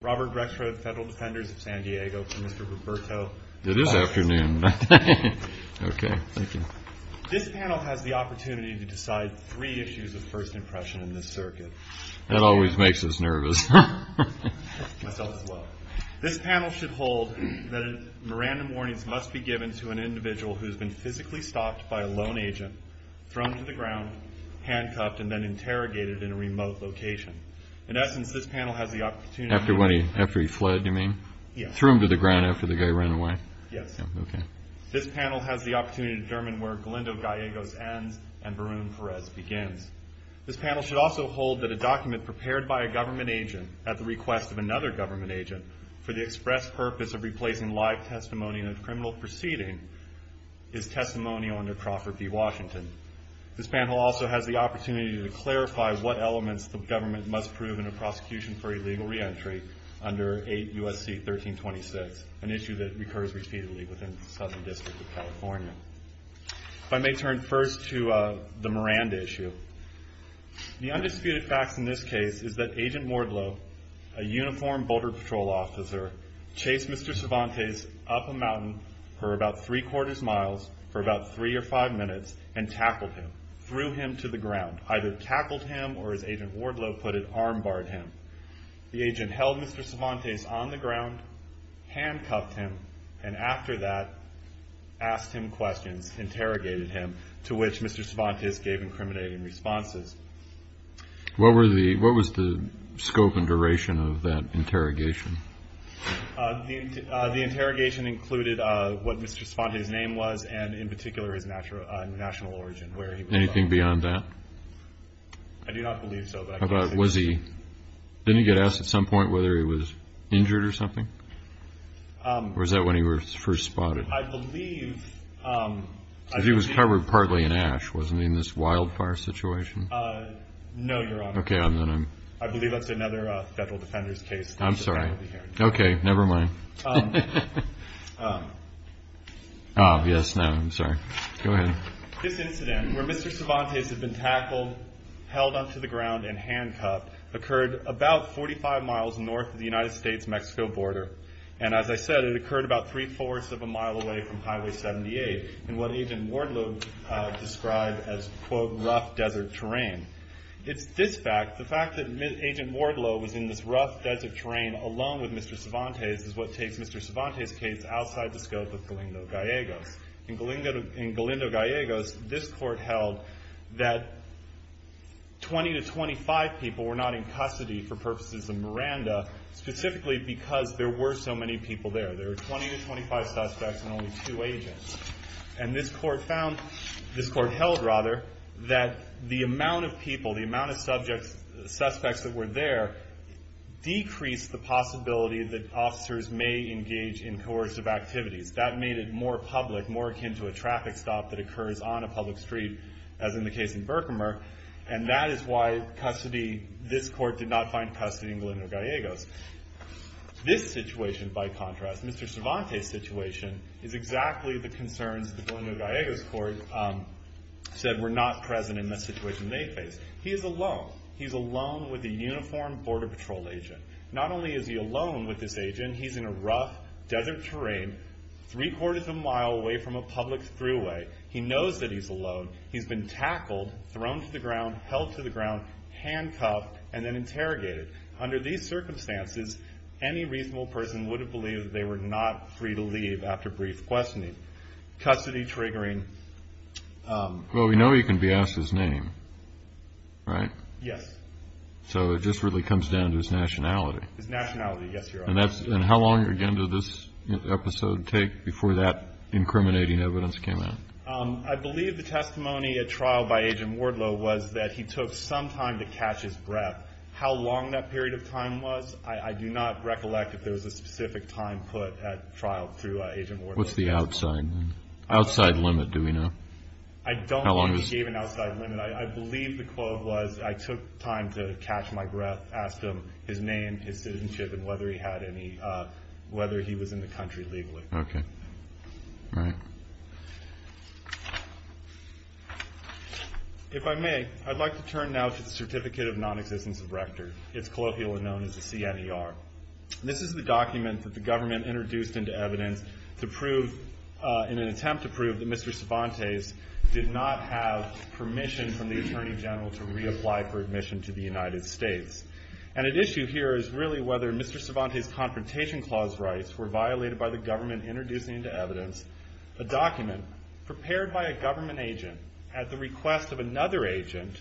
Robert Grexford, Federal Defenders of San Diego, for Mr. Roberto Valdes. It is afternoon. Okay, thank you. This panel has the opportunity to decide three issues of first impression in this circuit. That always makes us nervous. Myself as well. This panel should hold that random warnings must be given to an individual who has been physically stopped by a loan agent, thrown to the ground, handcuffed, and then interrogated in a remote location. In essence, this panel has the opportunity... After he fled, you mean? Yes. Threw him to the ground after the guy ran away? Yes. Okay. This panel has the opportunity to determine where Glendo Gallego's ends and Barone Perez begins. This panel should also hold that a document prepared by a government agent at the request of another government agent for the express purpose of replacing live testimony in a criminal proceeding is testimonial under Trafford v. Washington. This panel also has the opportunity to clarify what elements the government must prove in a prosecution for illegal reentry under 8 U.S.C. 1326, an issue that recurs repeatedly within the Southern District of California. If I may turn first to the Miranda issue. The undisputed facts in this case is that Agent Mordlow, a uniformed Boulder Patrol officer, chased Mr. Cervantes up a mountain for about three-quarters miles for about three or five minutes and tackled him, threw him to the ground, either tackled him or, as Agent Mordlow put it, armbarred him. The agent held Mr. Cervantes on the ground, handcuffed him, and after that asked him questions, interrogated him, to which Mr. Cervantes gave incriminating responses. What was the scope and duration of that interrogation? The interrogation included what Mr. Cervantes' name was and, in particular, his national origin. Anything beyond that? I do not believe so. Didn't he get asked at some point whether he was injured or something? Or was that when he was first spotted? He was covered partly in ash, wasn't he, in this wildfire situation? No, Your Honor. I believe that's another federal defender's case. I'm sorry. Okay, never mind. Oh, yes, no, I'm sorry. Go ahead. This incident, where Mr. Cervantes had been tackled, held onto the ground, and handcuffed, occurred about 45 miles north of the United States-Mexico border. And as I said, it occurred about three-fourths of a mile away from Highway 78 in what Agent Mordlow described as, quote, rough desert terrain. It's this fact, the fact that Agent Mordlow was in this rough desert terrain alone with Mr. Cervantes is what takes Mr. Cervantes' case outside the scope of Galindo-Gallegos. In Galindo-Gallegos, this court held that 20 to 25 people were not in custody for purposes of Miranda specifically because there were so many people there. There were 20 to 25 suspects and only two agents. And this court held that the amount of people, the amount of suspects that were there decreased the possibility that officers may engage in coercive activities. That made it more public, more akin to a traffic stop that occurs on a public street, as in the case in Berkmer. And that is why this court did not find custody in Galindo-Gallegos. This situation, by contrast, Mr. Cervantes' situation, is exactly the concerns the Galindo-Gallegos court said were not present in the situation they faced. He is alone. He is alone with a uniformed Border Patrol agent. Not only is he alone with this agent, he's in a rough desert terrain, three-quarters of a mile away from a public throughway. He knows that he's alone. He's been tackled, thrown to the ground, held to the ground, handcuffed, and then interrogated. Under these circumstances, any reasonable person would have believed that they were not free to leave after brief questioning. Custody triggering. Well, we know he can be asked his name, right? Yes. So it just really comes down to his nationality. His nationality, yes, Your Honor. And how long, again, did this episode take before that incriminating evidence came out? I believe the testimony at trial by Agent Wardlow was that he took some time to catch his breath. How long that period of time was, I do not recollect if there was a specific time put at trial through Agent Wardlow. What's the outside limit, do we know? I don't think he gave an outside limit. I believe the quote was, I took time to catch my breath, asked him his name, his citizenship, and whether he was in the country legally. Okay. All right. If I may, I'd like to turn now to the Certificate of Non-Existence of Rector. It's colloquially known as the CNER. This is the document that the government introduced into evidence to prove, in an attempt to prove that Mr. Cervantes did not have permission from the Attorney General to reapply for admission to the United States. And at issue here is really whether Mr. Cervantes' Confrontation Clause rights were violated by the government introducing into evidence a document prepared by a government agent at the request of another agent,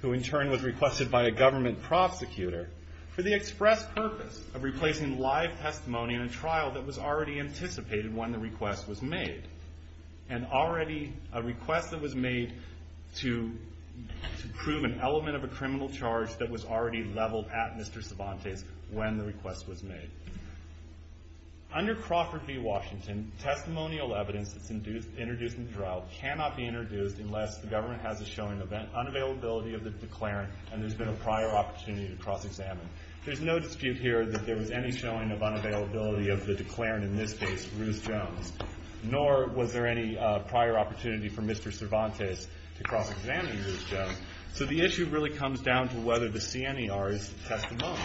who in turn was requested by a government prosecutor, for the express purpose of replacing live testimony in a trial that was already anticipated when the request was made. And already a request that was made to prove an element of a criminal charge that was already leveled at Mr. Cervantes when the request was made. Under Crawford v. Washington, testimonial evidence that's introduced in the trial cannot be introduced unless the government has a showing of unavailability of the declarant and there's been a prior opportunity to cross-examine. There's no dispute here that there was any showing of unavailability of the declarant, in this case, Ruth Jones, nor was there any prior opportunity for Mr. Cervantes to cross-examine Ruth Jones. So the issue really comes down to whether the CNER is testimonial.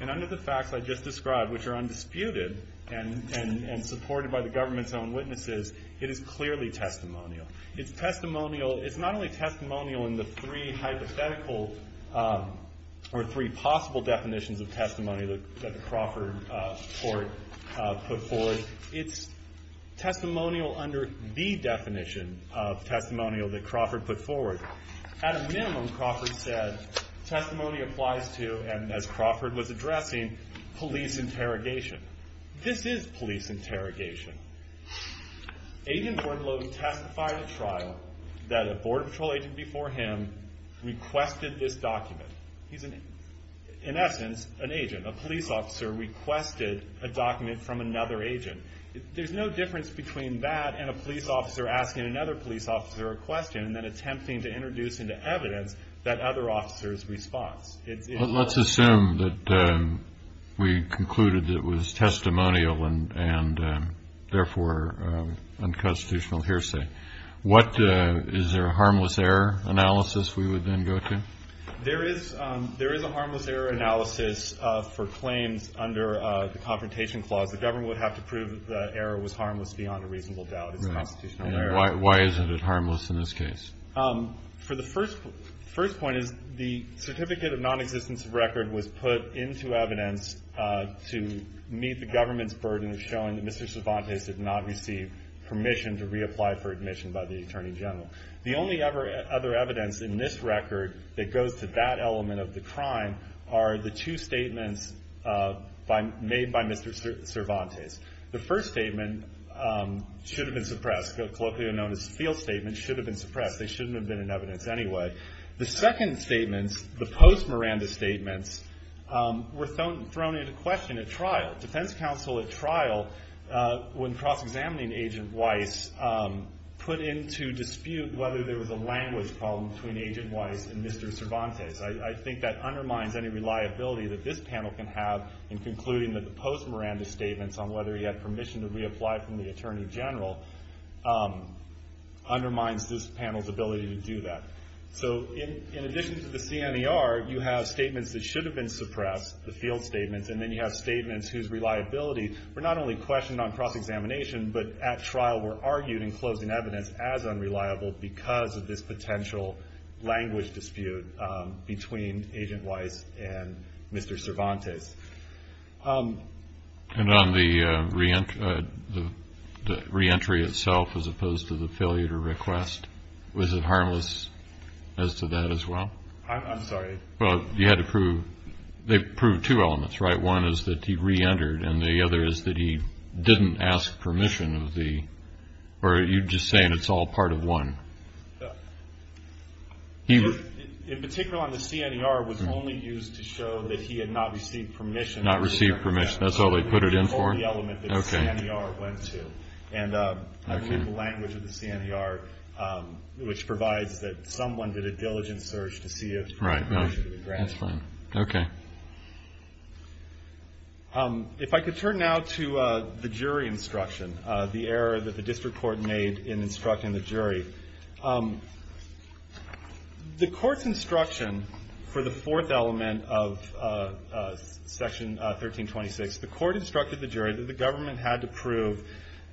And under the facts I just described, which are undisputed and supported by the government's own witnesses, it is clearly testimonial. It's testimonial, it's not only testimonial in the three hypothetical, or three possible definitions of testimony that the Crawford court put forward, it's testimonial under the definition of testimonial that Crawford put forward. At a minimum, Crawford said, testimony applies to, and as Crawford was addressing, police interrogation. This is police interrogation. Agent Bordelot testified at trial that a Border Patrol agent before him requested this document. He's, in essence, an agent. A police officer requested a document from another agent. There's no difference between that and a police officer asking another police officer a question and then attempting to introduce into evidence that other officer's response. Let's assume that we concluded it was testimonial and, therefore, unconstitutional hearsay. Is there a harmless error analysis we would then go to? There is a harmless error analysis for claims under the Confrontation Clause. The government would have to prove that the error was harmless beyond a reasonable doubt. Why isn't it harmless in this case? The first point is the certificate of nonexistence record was put into evidence to meet the government's burden of showing that Mr. Cervantes did not receive permission to reapply for admission by the Attorney General. The only other evidence in this record that goes to that element of the crime are the two statements made by Mr. Cervantes. The first statement should have been suppressed. Colloquially known as the field statement should have been suppressed. They shouldn't have been in evidence anyway. The second statement, the post-Miranda statements, were thrown into question at trial. Defense counsel at trial, when cross-examining Agent Weiss, put into dispute whether there was a language problem between Agent Weiss and Mr. Cervantes. I think that undermines any reliability that this panel can have in concluding that the post-Miranda statements on whether he had permission to reapply from the Attorney General undermines this panel's ability to do that. In addition to the CNER, you have statements that should have been suppressed, the field statements, and then you have statements whose reliability were not only questioned on cross-examination, but at trial were argued in closing evidence as unreliable because of this potential language dispute between Agent Weiss and Mr. Cervantes. And on the reentry itself as opposed to the failure to request, was it harmless as to that as well? I'm sorry? Well, you had to prove, they proved two elements, right? One is that he reentered and the other is that he didn't ask permission of the, or are you just saying it's all part of one? He was, in particular on the CNER, was only used to show that he had not received permission. Not received permission. That's all they put it in for? All the element that CNER went to. Okay. And I believe the language of the CNER, which provides that someone did a diligent search to see if permission was granted. Right. That's fine. Okay. If I could turn now to the jury instruction, the error that the district court made in instructing the jury. The court's instruction for the fourth element of Section 1326, the court instructed the jury that the government had to prove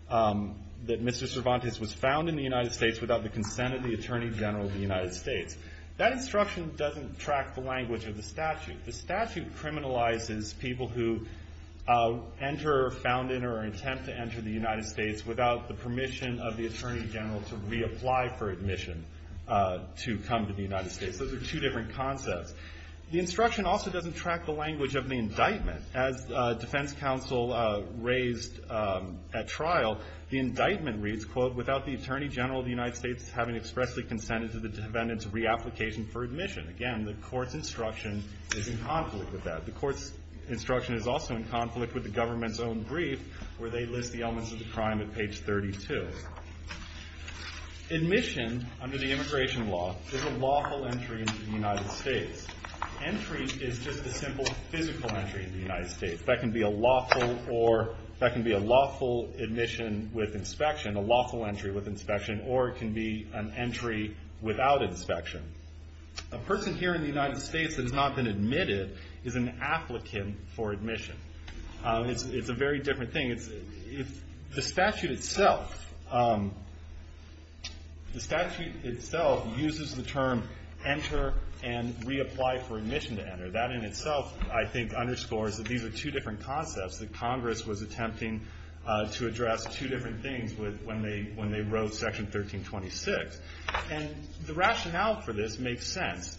that Mr. Cervantes was found in the United States without the consent of the Attorney General of the United States. That instruction doesn't track the language of the statute. The statute criminalizes people who enter, found in, or attempt to enter the United States without the permission of the Attorney General to reapply for admission to come to the United States. Those are two different concepts. The instruction also doesn't track the language of the indictment. As defense counsel raised at trial, the indictment reads, quote, without the Attorney General of the United States having expressly consented to the defendant's reapplication for admission. Again, the court's instruction is in conflict with that. The court's instruction is also in conflict with the government's own brief where they list the elements of the crime at page 32. Admission under the immigration law is a lawful entry into the United States. Entry is just a simple physical entry into the United States. That can be a lawful admission with inspection, a lawful entry with inspection, or it can be an entry without inspection. A person here in the United States that has not been admitted is an applicant for admission. It's a very different thing. The statute itself uses the term enter and reapply for admission to enter. That in itself, I think, underscores that these are two different concepts that Congress was attempting to address, two different things when they wrote Section 1326. The rationale for this makes sense.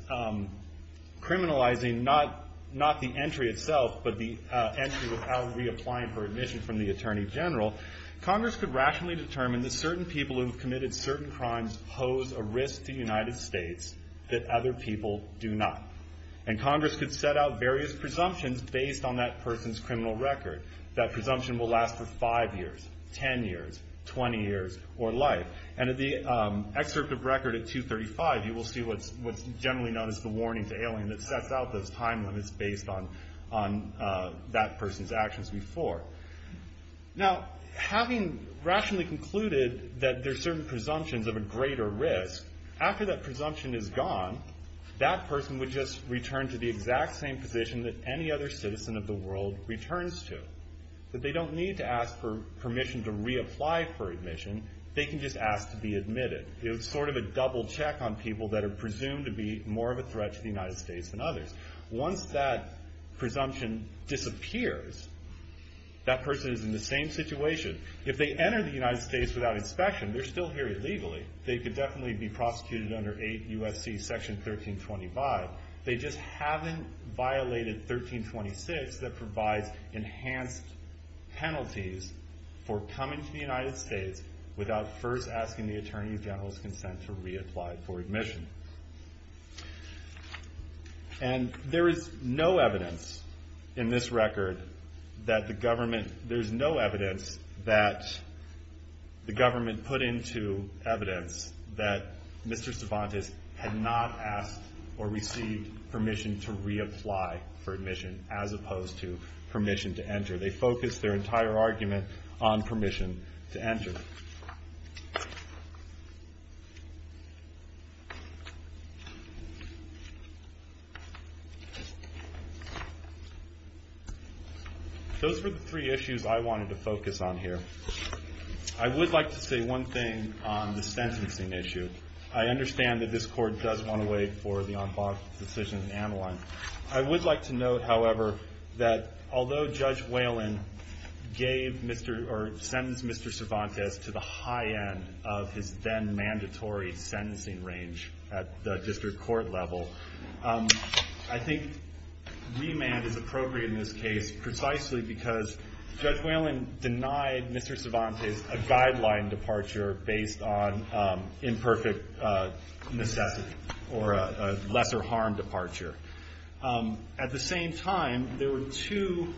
Criminalizing not the entry itself, but the entry without reapplying for admission from the Attorney General, Congress could rationally determine that certain people who have committed certain crimes pose a risk to the United States that other people do not. Congress could set out various presumptions based on that person's criminal record. That presumption will last for five years, 10 years, 20 years, or life. In the excerpt of record at 235, you will see what's generally known as the warning to alien that sets out those time limits based on that person's actions before. Having rationally concluded that there are certain presumptions of a greater risk, after that presumption is gone, that person would just return to the exact same position that any other citizen of the world returns to. They don't need to ask for permission to reapply for admission. They can just ask to be admitted. It's sort of a double check on people that are presumed to be more of a threat to the United States than others. Once that presumption disappears, that person is in the same situation. If they enter the United States without inspection, they're still here illegally. They could definitely be prosecuted under 8 U.S.C. Section 1325. They just haven't violated 1326 that provides enhanced penalties for coming to the United States without first asking the Attorney General's consent to reapply for admission. There is no evidence in this record that the government put into evidence that Mr. Cervantes had not asked or received permission to reapply for admission, as opposed to permission to enter. They focused their entire argument on permission to enter. Those were the three issues I wanted to focus on here. I would like to say one thing on the sentencing issue. I understand that this Court does want to wait for the on-box decision to analyze. I would like to note, however, that although Judge Whalen sentenced Mr. Cervantes to the high end of his then mandatory sentencing range at the district court level, I think remand is appropriate in this case, precisely because Judge Whalen denied Mr. Cervantes a guideline departure based on imperfect necessity or a lesser harm departure. At the same time, there were two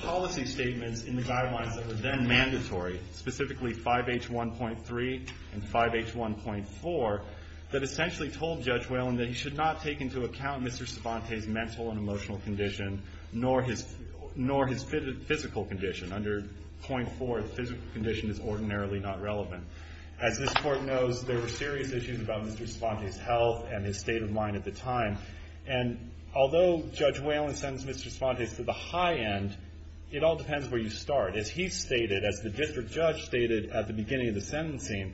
policy statements in the guidelines that were then mandatory, specifically 5H1.3 and 5H1.4 that essentially told Judge Whalen that he should not take into account Mr. Cervantes' mental and emotional condition nor his physical condition. Under 5H1.4, the physical condition is ordinarily not relevant. As this Court knows, there were serious issues about Mr. Cervantes' health and his state of mind at the time. Although Judge Whalen sentenced Mr. Cervantes to the high end, it all depends where you start. As the district judge stated at the beginning of the sentencing,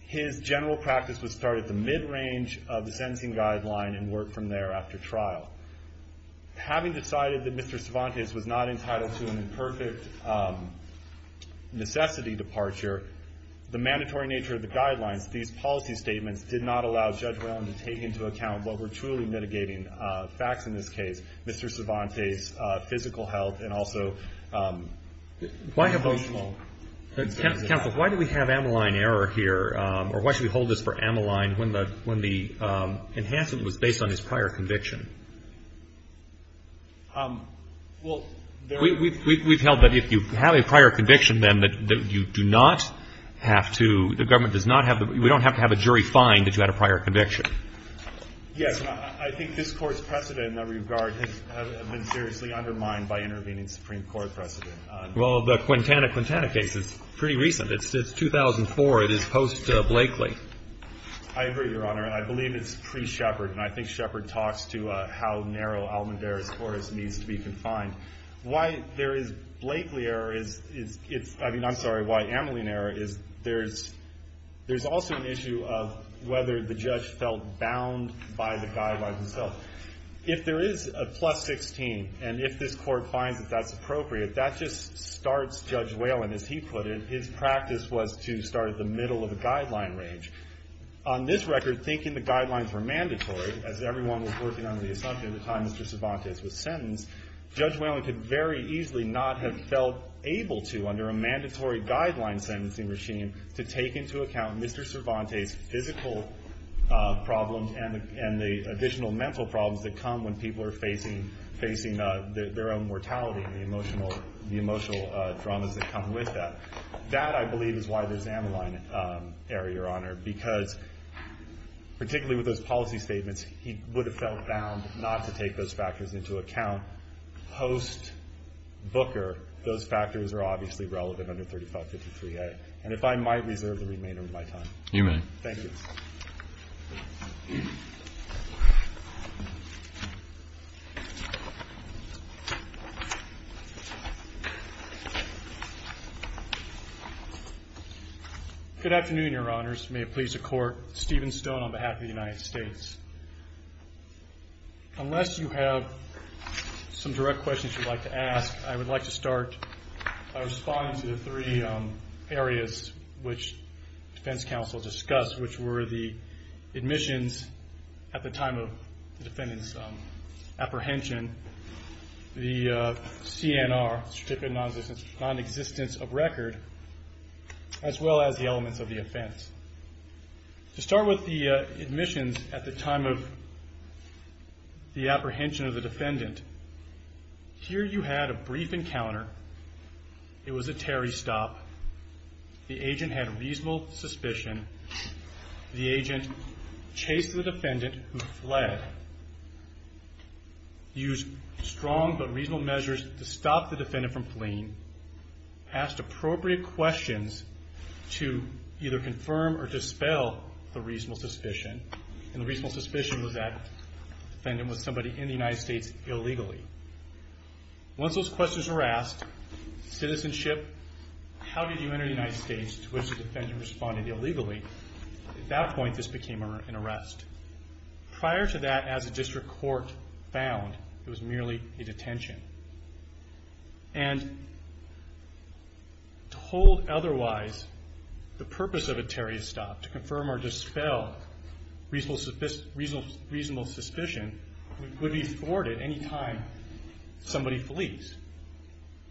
his general practice was to start at the mid-range of the sentencing guideline and work from there after trial. Having decided that Mr. Cervantes was not entitled to an imperfect necessity departure, the mandatory nature of the guidelines, these policy statements, did not allow Judge Whalen to take into account what were truly mitigating facts in this case, Mr. Cervantes' physical health and also emotional. Counsel, why do we have Ameline error here, or why should we hold this for Ameline when the enhancement was based on his prior conviction? We've held that if you have a prior conviction, then, that you do not have to, the government does not have, we don't have to have a jury find that you had a prior conviction. Yes, I think this Court's precedent in that regard has been seriously undermined by intervening Supreme Court precedent. Well, the Quintana, Quintana case is pretty recent. It's 2004. It is post-Blakely. I agree, Your Honor. I believe it's pre-Shepard, and I think Shepard talks to how narrow Almendare's course needs to be confined. Why there is Blakely error is, I mean, I'm sorry, why Ameline error is, there's also an issue of whether the judge felt bound by the guidelines himself. If there is a plus 16, and if this Court finds that that's appropriate, that just starts Judge Whalen, as he put it. His practice was to start at the middle of the guideline range. On this record, thinking the guidelines were mandatory, as everyone was working under the assumption at the time Mr. Cervantes was sentenced, Judge Whalen could very easily not have felt able to, under a mandatory guideline sentencing regime, to take into account Mr. Cervantes' physical problems and the additional mental problems that come when people are facing their own mortality and the emotional traumas that come with that. That, I believe, is why there's Ameline error, Your Honor, because particularly with those policy statements, he would have felt bound not to take those factors into account. Post-Booker, those factors are obviously relevant under 3553A. And if I might reserve the remainder of my time. You may. Thank you. Thank you. Good afternoon, Your Honors. May it please the Court. Steven Stone on behalf of the United States. Unless you have some direct questions you'd like to ask, I would like to start by responding to the three areas which defense counsel discussed, which were the admissions at the time of the defendant's apprehension, the CNR, certificate of non-existence of record, as well as the elements of the offense. To start with the admissions at the time of the apprehension of the defendant, here you had a brief encounter. It was a Terry stop. The agent had reasonable suspicion. The agent chased the defendant who fled, used strong but reasonable measures to stop the defendant from fleeing, asked appropriate questions to either confirm or dispel the reasonable suspicion, and the reasonable suspicion was that the defendant was somebody in the United States illegally. Once those questions were asked, citizenship, how did you enter the United States to which the defendant responded illegally, at that point this became an arrest. Prior to that, as a district court found, it was merely a detention. And told otherwise, the purpose of a Terry stop, to confirm or dispel reasonable suspicion would be thwarted any time somebody flees.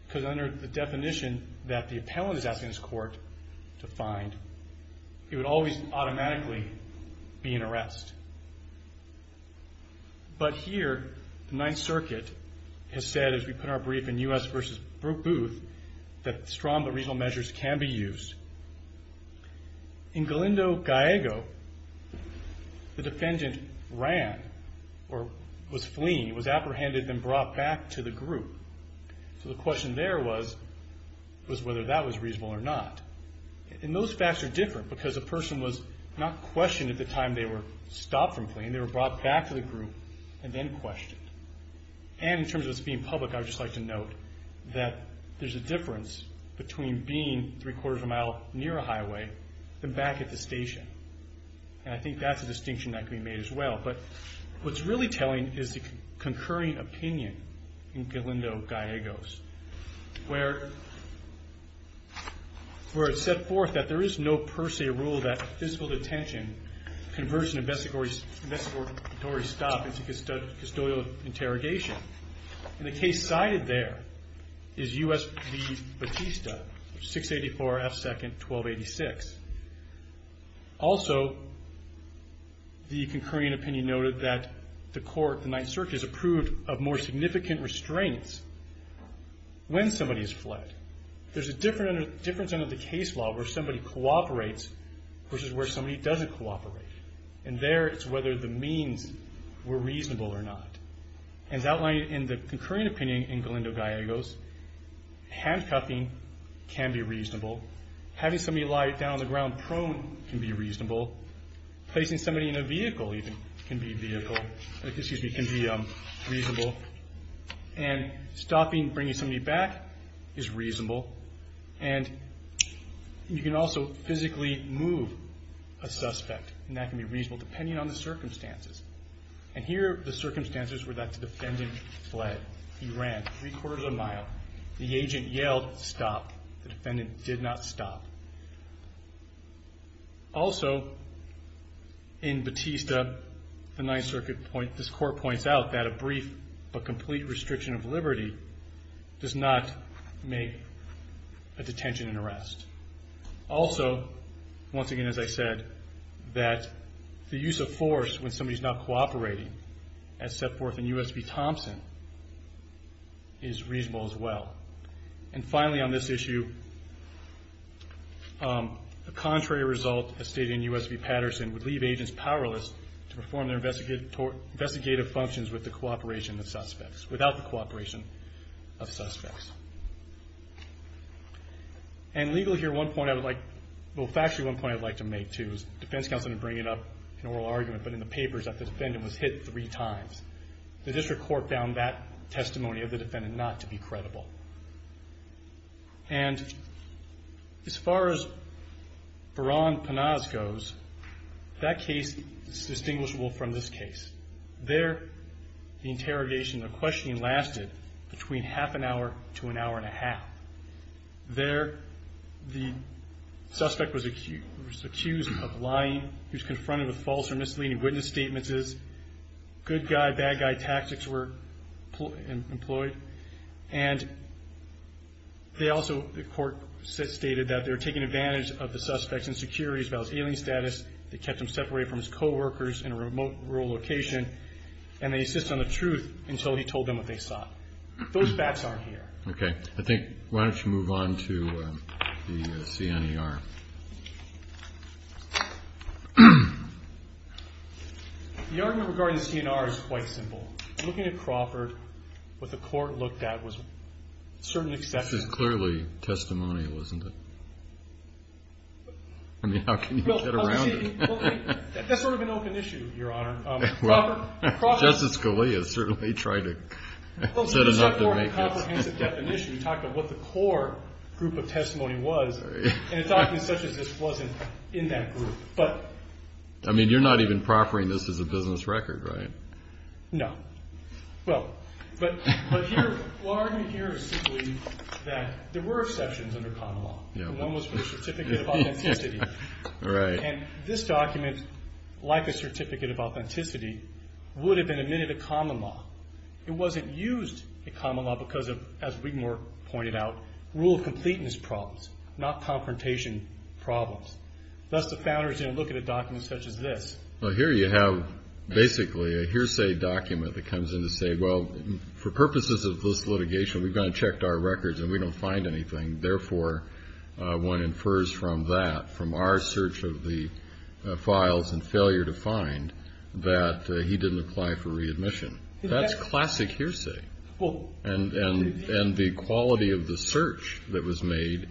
Because under the definition that the appellant is asking his court to find, it would always automatically be an arrest. But here, the Ninth Circuit has said, as we put our brief in U.S. v. Brook Booth, that strong but reasonable measures can be used. In Galindo, Gallego, the defendant ran, or was fleeing, was apprehended and brought back to the group. So the question there was whether that was reasonable or not. And those facts are different because the person was not questioned at the time they were stopped from fleeing, they were brought back to the group and then questioned. And in terms of this being public, I would just like to note that there's a difference between being three-quarters of a mile near a highway and back at the station. And I think that's a distinction that can be made as well. But what's really telling is the concurring opinion in Galindo-Gallegos, where it's set forth that there is no per se rule that physical detention, conversion and investigatory stop is a custodial interrogation. And the case cited there is U.S. v. Batista, 684 F. 2nd, 1286. Also, the concurring opinion noted that the court, the Ninth Circuit, has approved of more significant restraints when somebody has fled. There's a difference under the case law where somebody cooperates versus where somebody doesn't cooperate. And there it's whether the means were reasonable or not. As outlined in the concurring opinion in Galindo-Gallegos, handcuffing can be reasonable. Having somebody lie down on the ground prone can be reasonable. Placing somebody in a vehicle even can be reasonable. And stopping, bringing somebody back is reasonable. And you can also physically move a suspect, and that can be reasonable, depending on the circumstances. And here are the circumstances where that defendant fled. He ran three-quarters of a mile. The agent yelled, stop. The defendant did not stop. Also, in Batista, the Ninth Circuit, this court points out that a brief but complete restriction of liberty does not make a detention an arrest. Also, once again, as I said, that the use of force when somebody's not cooperating, as set forth in U.S. v. Thompson, is reasonable as well. And finally, on this issue, the contrary result, as stated in U.S. v. Patterson, would leave agents powerless to perform their investigative functions with the cooperation of suspects, without the cooperation of suspects. And legally here, one point I would like to make, too, is the defense counsel didn't bring it up in oral argument, but in the papers that the defendant was hit three times. The district court found that testimony of the defendant not to be credible. And as far as Veran Penaz goes, that case is distinguishable from this case. There, the interrogation, the questioning, lasted between half an hour to an hour and a half. There, the suspect was accused of lying. He was confronted with false or misleading witness statements. Good guy, bad guy tactics were employed. And they also, the court stated, that they were taking advantage of the suspect's insecurities about his ailing status. They kept him separated from his coworkers in a remote, rural location. And they insisted on the truth until he told them what they saw. Those facts aren't here. Okay. I think, why don't you move on to the CNER. The argument regarding the CNER is quite simple. Looking at Crawford, what the court looked at was certain exceptions. This is clearly testimonial, isn't it? I mean, how can you get around it? That's sort of an open issue, Your Honor. Justice Scalia certainly tried to set enough to make it. We talked about what the core group of testimony was. And a document such as this wasn't in that group. I mean, you're not even proffering this as a business record, right? No. But the argument here is simply that there were exceptions under common law. One was for the certificate of authenticity. And this document, like a certificate of authenticity, would have been admitted to common law. It wasn't used in common law because of, as Wigmore pointed out, rule of completeness problems, not confrontation problems. Thus, the founders didn't look at a document such as this. Well, here you have basically a hearsay document that comes in to say, well, for purposes of this litigation, we've gone and checked our records and we don't find anything. Therefore, one infers from that, from our search of the files and failure to find, that he didn't apply for readmission. That's classic hearsay. And the quality of the search that was made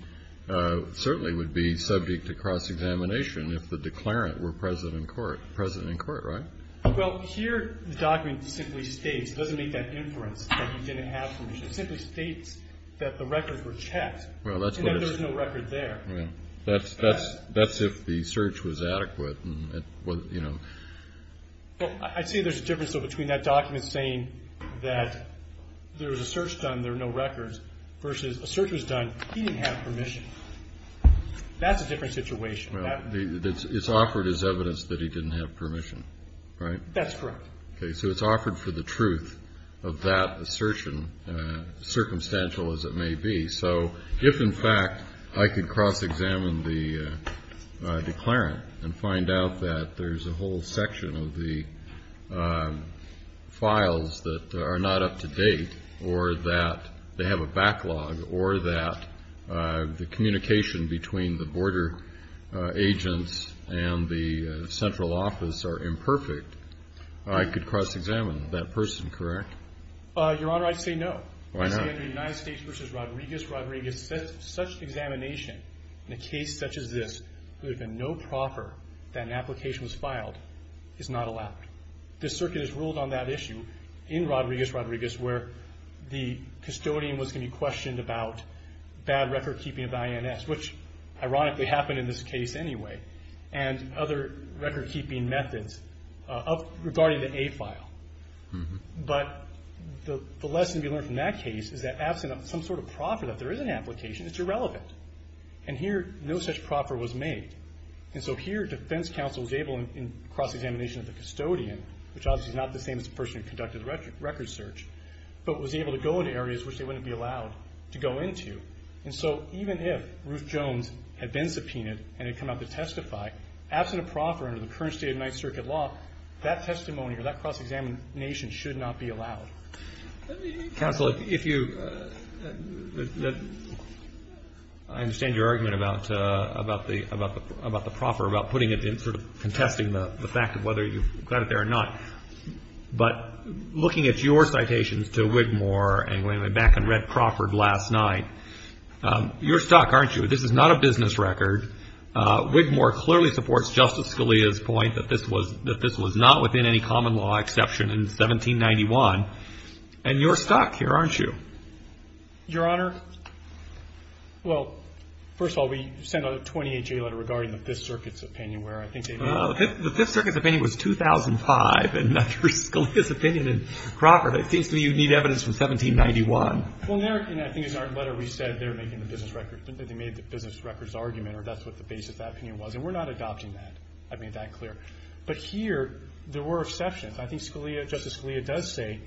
certainly would be subject to cross-examination if the declarant were present in court, right? Well, here the document simply states, it doesn't make that inference that he didn't have permission, it simply states that the records were checked. And then there's no record there. That's if the search was adequate. Well, I'd say there's a difference between that document saying that there was a search done, there are no records, versus a search was done, he didn't have permission. That's a different situation. It's offered as evidence that he didn't have permission, right? That's correct. Okay, so it's offered for the truth of that assertion, circumstantial as it may be. So if, in fact, I could cross-examine the declarant and find out that there's a whole section of the files that are not up to date or that they have a backlog or that the communication between the border agents and the central office are imperfect, I could cross-examine that person, correct? Your Honor, I'd say no. Why not? I'd say under the United States v. Rodriguez, Rodriguez, such examination in a case such as this, where there had been no proffer that an application was filed, is not allowed. This circuit is ruled on that issue in Rodriguez, Rodriguez, where the custodian was going to be questioned about bad record keeping of INS, which ironically happened in this case anyway, and other record keeping methods regarding the A file. But the lesson we learned from that case is that, absent some sort of proffer that there is an application, it's irrelevant. And here, no such proffer was made. And so here, defense counsel was able, in cross-examination of the custodian, which obviously is not the same as the person who conducted the record search, but was able to go into areas which they wouldn't be allowed to go into. And so even if Ruth Jones had been subpoenaed and had come out to testify, absent a proffer under the current state of Ninth Circuit law, that testimony or that cross-examination should not be allowed. Counsel, if you – I understand your argument about the proffer, about putting it in sort of contesting the fact of whether you've got it there or not. But looking at your citations to Wigmore and going back and read Crawford last night, you're stuck, aren't you? This is not a business record. Wigmore clearly supports Justice Scalia's point that this was not within any common law exception in 1791, and you're stuck here, aren't you? Your Honor, well, first of all, we sent out a 28-J letter regarding the Fifth Circuit's opinion where I think they – the Fifth Circuit's opinion was 2005, and under Scalia's opinion in Crawford, it seems to me you need evidence from 1791. Well, in there – and I think in our letter we said they're making the business record – that they made the business record's argument or that's what the basis of that opinion was. And we're not adopting that. I've made that clear. But here there were exceptions. I think Scalia – Justice Scalia does say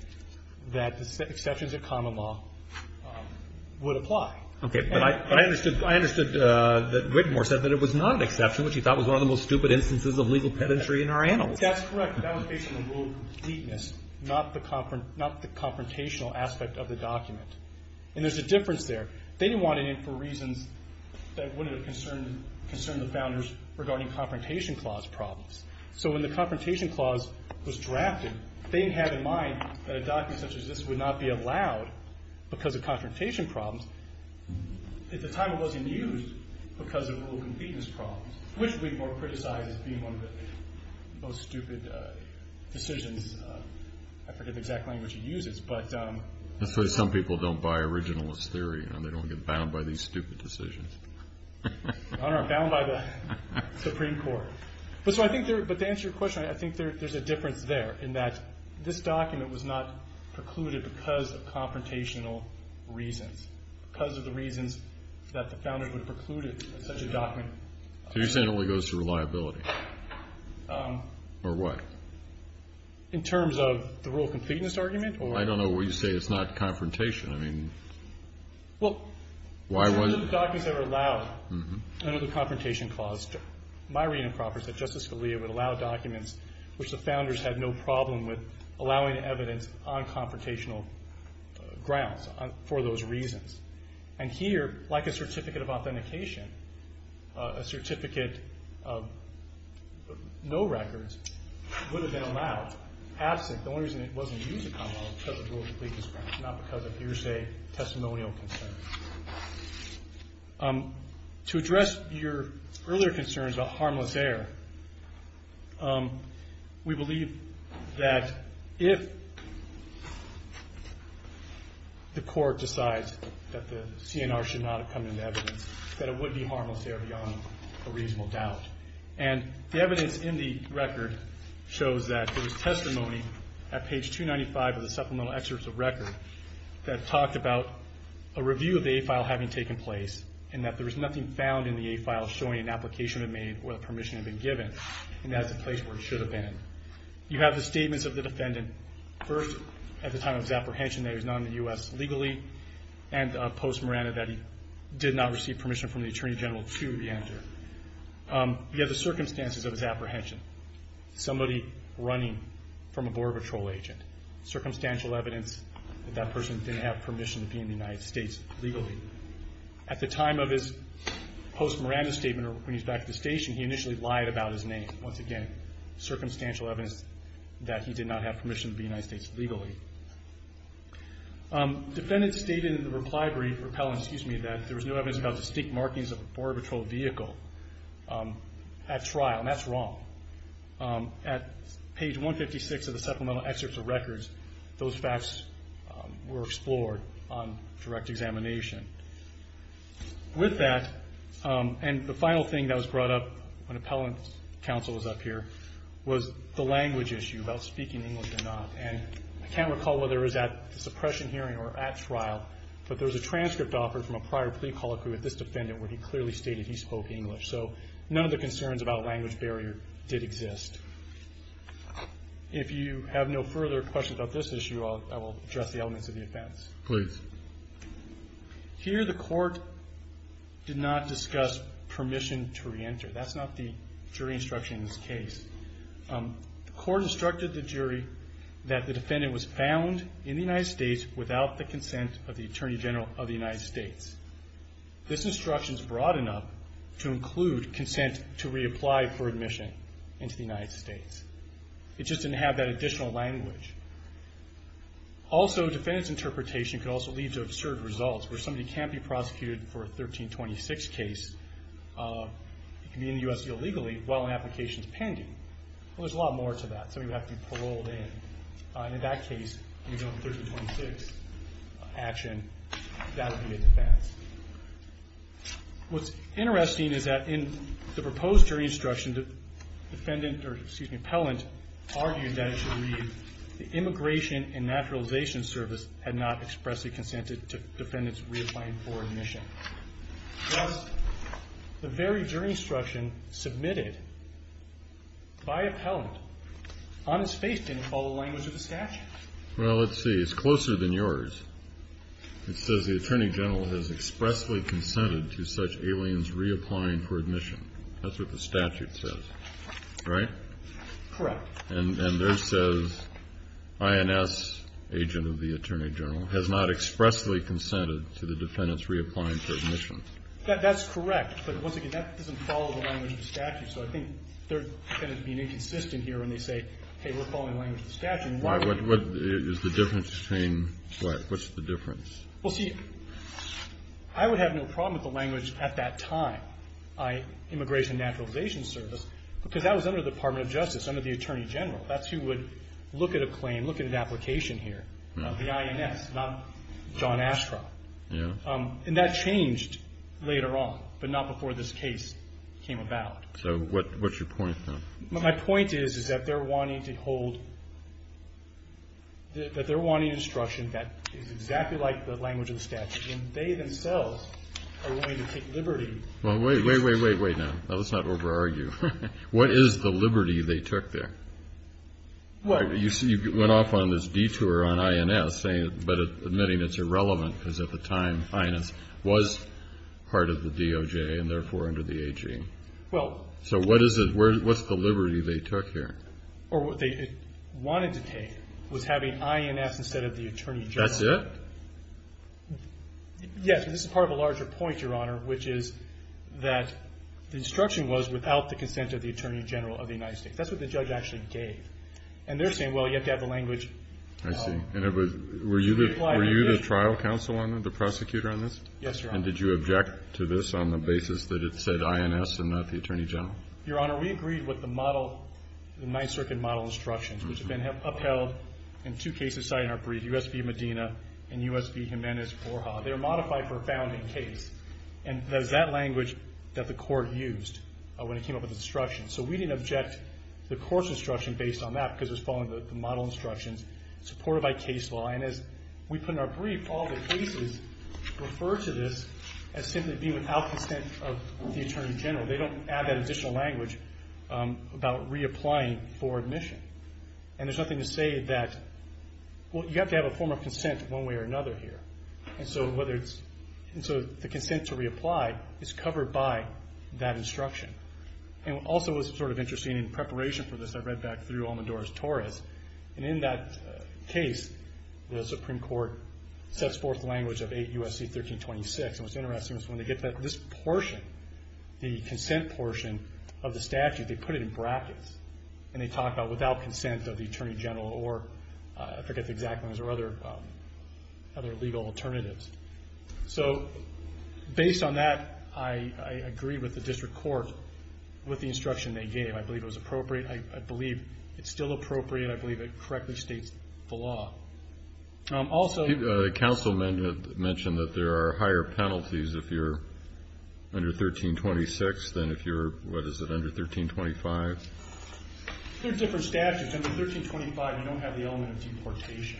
that exceptions of common law would apply. Okay. But I understood – I understood that Wigmore said that it was not an exception, which he thought was one of the most stupid instances of legal pedantry in our annals. That's correct. That was based on the rule of completeness, not the confrontational aspect of the document. And there's a difference there. They didn't want it in for reasons that wouldn't have concerned the founders regarding Confrontation Clause problems. So when the Confrontation Clause was drafted, they had in mind that a document such as this would not be allowed because of confrontation problems. At the time it wasn't used because of rule of completeness problems, which Wigmore criticized as being one of the most stupid decisions. I forget the exact language he uses, but – That's why some people don't buy originalist theory. They don't get bound by these stupid decisions. Your Honor, I'm bound by the Supreme Court. But so I think there – but to answer your question, I think there's a difference there in that this document was not precluded because of confrontational reasons, because of the reasons that the founders would have precluded such a document. So you're saying it only goes to reliability? Or what? In terms of the rule of completeness argument or – I don't know what you say. It's not confrontation. I mean, why was – Well, the documents that were allowed under the Confrontation Clause, my reading of Crawford said Justice Scalia would allow documents which the founders had no problem with allowing evidence on confrontational grounds for those reasons. And here, like a certificate of authentication, a certificate of no records would have been allowed. Absent, the only reason it wasn't used in common law was because of rule of completeness problems, not because of hearsay, testimonial concerns. To address your earlier concerns about harmless error, we believe that if the court decides that the CNR should not have come into evidence, that it would be harmless error beyond a reasonable doubt. And the evidence in the record shows that there was testimony at page 295 of the Supplemental Excerpts of Record that talked about a review of the A file having taken place and that there was nothing found in the A file showing an application had been made or a permission had been given, and that's the place where it should have been. You have the statements of the defendant, first at the time of his apprehension that he was not in the U.S. legally, and post-Miranda that he did not receive permission from the Attorney General to be entered. You have the circumstances of his apprehension, somebody running from a Border Patrol agent, circumstantial evidence that that person didn't have permission to be in the United States legally. At the time of his post-Miranda statement, or when he's back at the station, he initially lied about his name. Once again, circumstantial evidence that he did not have permission to be in the United States legally. Defendants stated in the reply brief, repelling, excuse me, that there was no evidence about distinct markings of a Border Patrol vehicle at trial, and that's wrong. At page 156 of the supplemental excerpts of records, those facts were explored on direct examination. With that, and the final thing that was brought up when appellant counsel was up here, was the language issue about speaking English or not. I can't recall whether it was at the suppression hearing or at trial, but there was a transcript offered from a prior plea call with this defendant where he clearly stated he spoke English. So none of the concerns about language barrier did exist. If you have no further questions about this issue, I will address the elements of the offense. Please. Here the court did not discuss permission to reenter. That's not the jury instruction in this case. The court instructed the jury that the defendant was found in the United States without the consent of the Attorney General of the United States. This instruction is broad enough to include consent to reapply for admission into the United States. It just didn't have that additional language. Also, defendant's interpretation could also lead to absurd results where somebody can't be prosecuted for a 1326 case. It could be in the U.S. illegally while an application is pending. Well, there's a lot more to that. Somebody would have to be paroled in. In that case, 1326 action, that would be a defense. What's interesting is that in the proposed jury instruction, the defendant or, excuse me, appellant argued that the Immigration and Naturalization Service had not expressly consented to defendant's reapplying for admission. Thus, the very jury instruction submitted by appellant on its face didn't follow the language of the statute. Well, let's see. It's closer than yours. It says the Attorney General has expressly consented to such aliens reapplying for admission. That's what the statute says, right? Correct. And there it says INS, agent of the Attorney General, has not expressly consented to the defendant's reapplying for admission. So I think they're kind of being inconsistent here when they say, hey, we're following the language of the statute. What is the difference between what? What's the difference? Well, see, I would have no problem with the language at that time, Immigration and Naturalization Service, because that was under the Department of Justice, under the Attorney General. That's who would look at a claim, look at an application here, the INS, not John Ashcroft. Yeah. And that changed later on, but not before this case came about. So what's your point, then? My point is, is that they're wanting to hold, that they're wanting instruction that is exactly like the language of the statute. And they themselves are willing to take liberty. Well, wait, wait, wait, wait, now. Now, let's not over-argue. What is the liberty they took there? Well, you went off on this detour on INS, but admitting it's irrelevant because at the time INS was part of the DOJ and therefore under the AG. Well. So what is it, what's the liberty they took here? Or what they wanted to take was having INS instead of the Attorney General. That's it? Yes. This is part of a larger point, Your Honor, which is that the instruction was without the consent of the Attorney General of the United States. That's what the judge actually gave. And they're saying, well, you have to have the language. I see. And it was, were you the trial counsel on this, the prosecutor on this? Yes, Your Honor. And did you object to this on the basis that it said INS and not the Attorney General? Your Honor, we agreed with the model, the Ninth Circuit model instructions, which have been upheld in two cases cited in our brief, U.S. v. Medina and U.S. v. Jimenez-Forja. They were modified for a founding case. And it was that language that the court used when it came up with the instructions. So we didn't object to the court's instruction based on that because it was following the model instructions supported by case law. And as we put in our brief, all the cases refer to this as simply being without consent of the Attorney General. They don't add that additional language about reapplying for admission. And there's nothing to say that, well, you have to have a form of consent one way or another here. And so whether it's, and so the consent to reapply is covered by that instruction. And also it was sort of interesting in preparation for this, I read back through Almodores-Torres, and in that case the Supreme Court sets forth the language of 8 U.S.C. 1326. And what's interesting is when they get to this portion, the consent portion of the statute, they put it in brackets and they talk about without consent of the Attorney General or, I forget the exact ones, or other legal alternatives. So based on that, I agree with the district court with the instruction they gave. I believe it was appropriate. I believe it's still appropriate. I believe it correctly states the law. Also- Counsel mentioned that there are higher penalties if you're under 1326 than if you're, what is it, under 1325? There's different statutes. Under 1325, you don't have the element of deportation.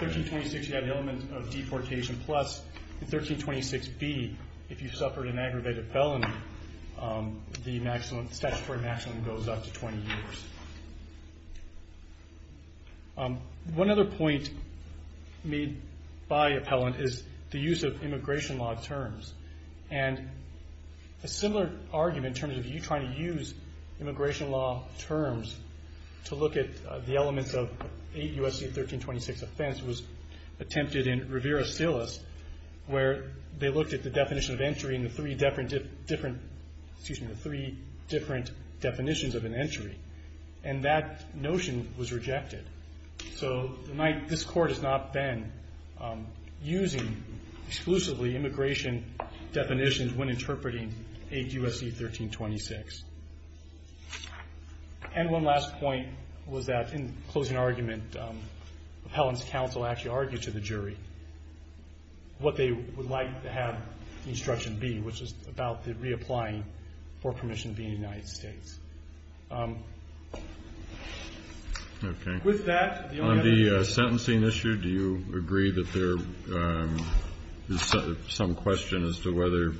1326, you have the element of deportation. Plus in 1326B, if you suffered an aggravated felony, the statutory maximum goes up to 20 years. One other point made by appellant is the use of immigration law terms. And a similar argument in terms of you trying to use immigration law terms to look at the elements of 8 U.S.C. 1326 offense was attempted in Rivera-Silas where they looked at the definition of entry and the three different definitions of an entry, and that notion was rejected. So this Court has not been using exclusively immigration definitions when interpreting 8 U.S.C. 1326. And one last point was that in closing argument, appellant's counsel actually argued to the jury what they would like to have the instruction be, which is about the reapplying for permission to be in the United States. Okay. With that- On the sentencing issue, do you agree that there is some question as to whether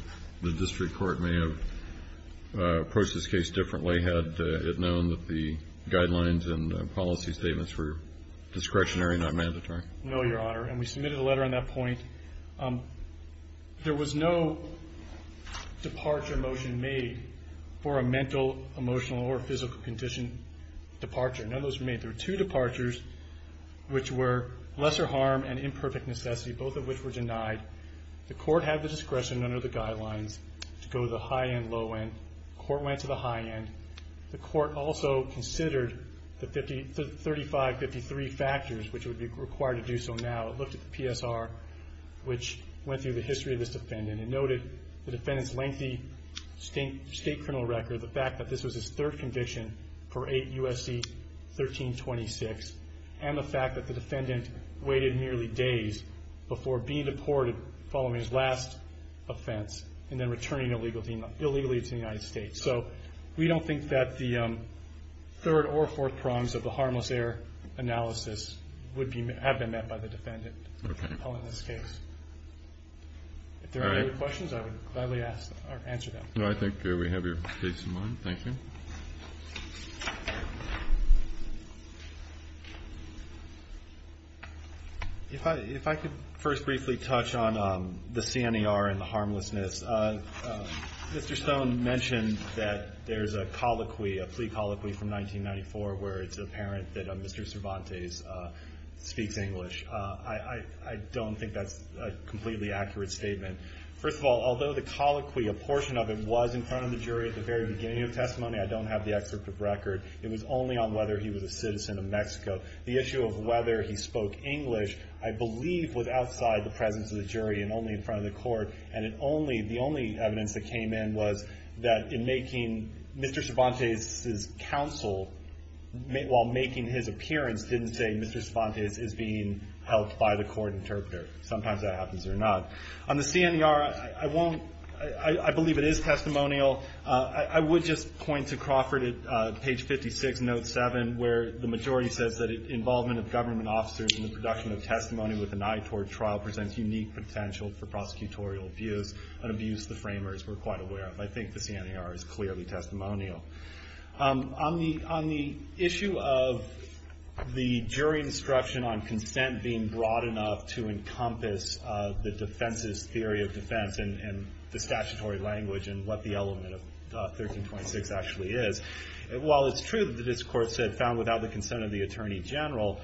the district court may have approached this case differently had it known that the guidelines and policy statements were discretionary, not mandatory? No, Your Honor, and we submitted a letter on that point. There was no departure motion made for a mental, emotional, or physical condition departure. None of those were made. There were two departures which were lesser harm and imperfect necessity, both of which were denied. The Court had the discretion under the guidelines to go the high end, low end. The Court went to the high end. The Court also considered the 3553 factors which would be required to do so now. It looked at the PSR, which went through the history of this defendant and noted the defendant's lengthy state criminal record, the fact that this was his third conviction for 8 U.S.C. 1326, and the fact that the defendant waited nearly days before being deported following his last offense and then returning illegally to the United States. So we don't think that the third or fourth crimes of the harmless error analysis have been met by the defendant in this case. If there are any other questions, I would gladly answer them. I think we have your case in mind. Thank you. If I could first briefly touch on the CNER and the harmlessness. Mr. Stone mentioned that there's a colloquy, a plea colloquy from 1994, where it's apparent that Mr. Cervantes speaks English. I don't think that's a completely accurate statement. First of all, although the colloquy, a portion of it, was in front of the jury at the very beginning of the testimony, I don't have the excerpt of the record. It was only on whether he was a citizen of Mexico. The issue of whether he spoke English, I believe, was outside the presence of the jury and only in front of the court. And the only evidence that came in was that in making Mr. Cervantes' counsel, while making his appearance, didn't say Mr. Cervantes is being helped by the court interpreter. Sometimes that happens or not. On the CNER, I believe it is testimonial. I would just point to Crawford at page 56, note 7, where the majority says that involvement of government officers in the production of testimony with an eye toward trial presents unique potential for prosecutorial abuse, an abuse the framers were quite aware of. I think the CNER is clearly testimonial. On the issue of the jury instruction on consent being broad enough to encompass the defense's theory of defense and the statutory language and what the element of 1326 actually is, while it's true that this court said found without the consent of the attorney general,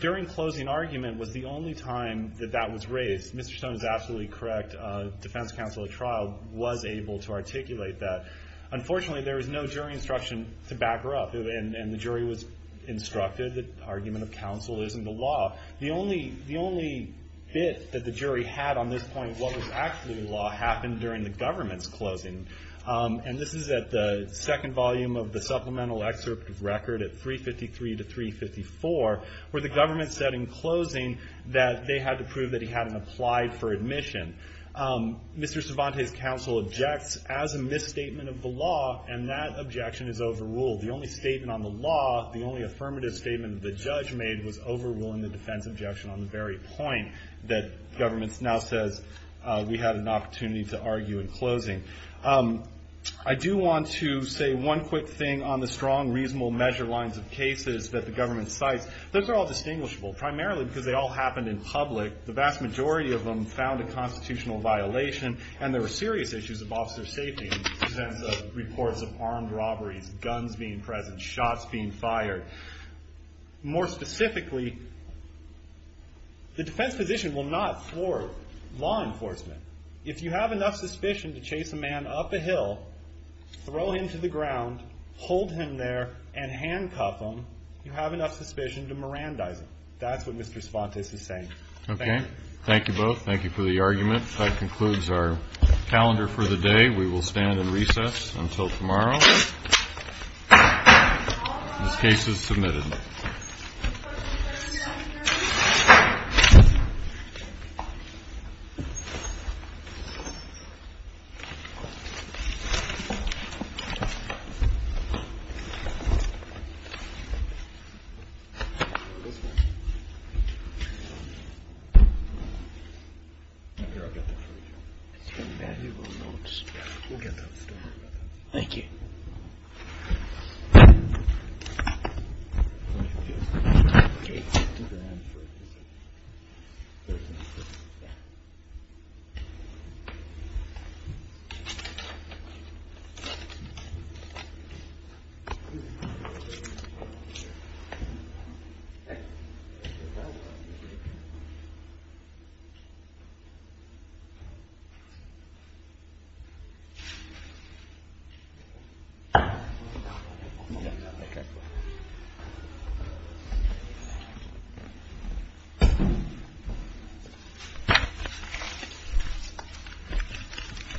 during closing argument was the only time that that was raised. Mr. Stone is absolutely correct. Defense counsel at trial was able to articulate that. Unfortunately, there was no jury instruction to back her up, and the jury was instructed that argument of counsel isn't the law. The only bit that the jury had on this point, what was actually the law, happened during the government's closing. And this is at the second volume of the supplemental excerpt of record at 353 to 354, where the government said in closing that they had to prove that he hadn't applied for admission. Mr. Cervantes' counsel objects as a misstatement of the law, and that objection is overruled. The only statement on the law, the only affirmative statement that the judge made, was overruling the defense objection on the very point that government now says we had an opportunity to argue in closing. I do want to say one quick thing on the strong, reasonable measure lines of cases that the government cites. Those are all distinguishable, primarily because they all happened in public. The vast majority of them found a constitutional violation, and there were serious issues of officer safety in the sense of reports of armed robberies, guns being present, shots being fired. More specifically, the defense position will not floor law enforcement. If you have enough suspicion to chase a man up a hill, throw him to the ground, hold him there, and handcuff him, you have enough suspicion to Mirandize him. That's what Mr. Cervantes is saying. Thank you. Okay. Thank you both. Thank you for the argument. That concludes our calendar for the day. We will stand in recess until tomorrow. This case is submitted. Thank you. Okay.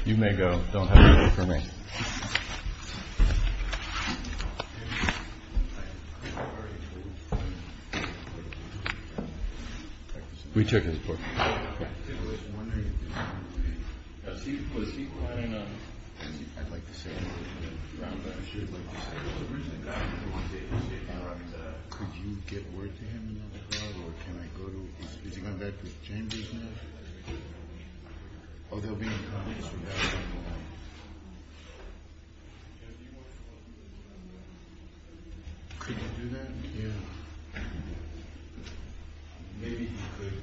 You may go. Don't have time for me. Could you do that? Yeah. Maybe you could. Thank you.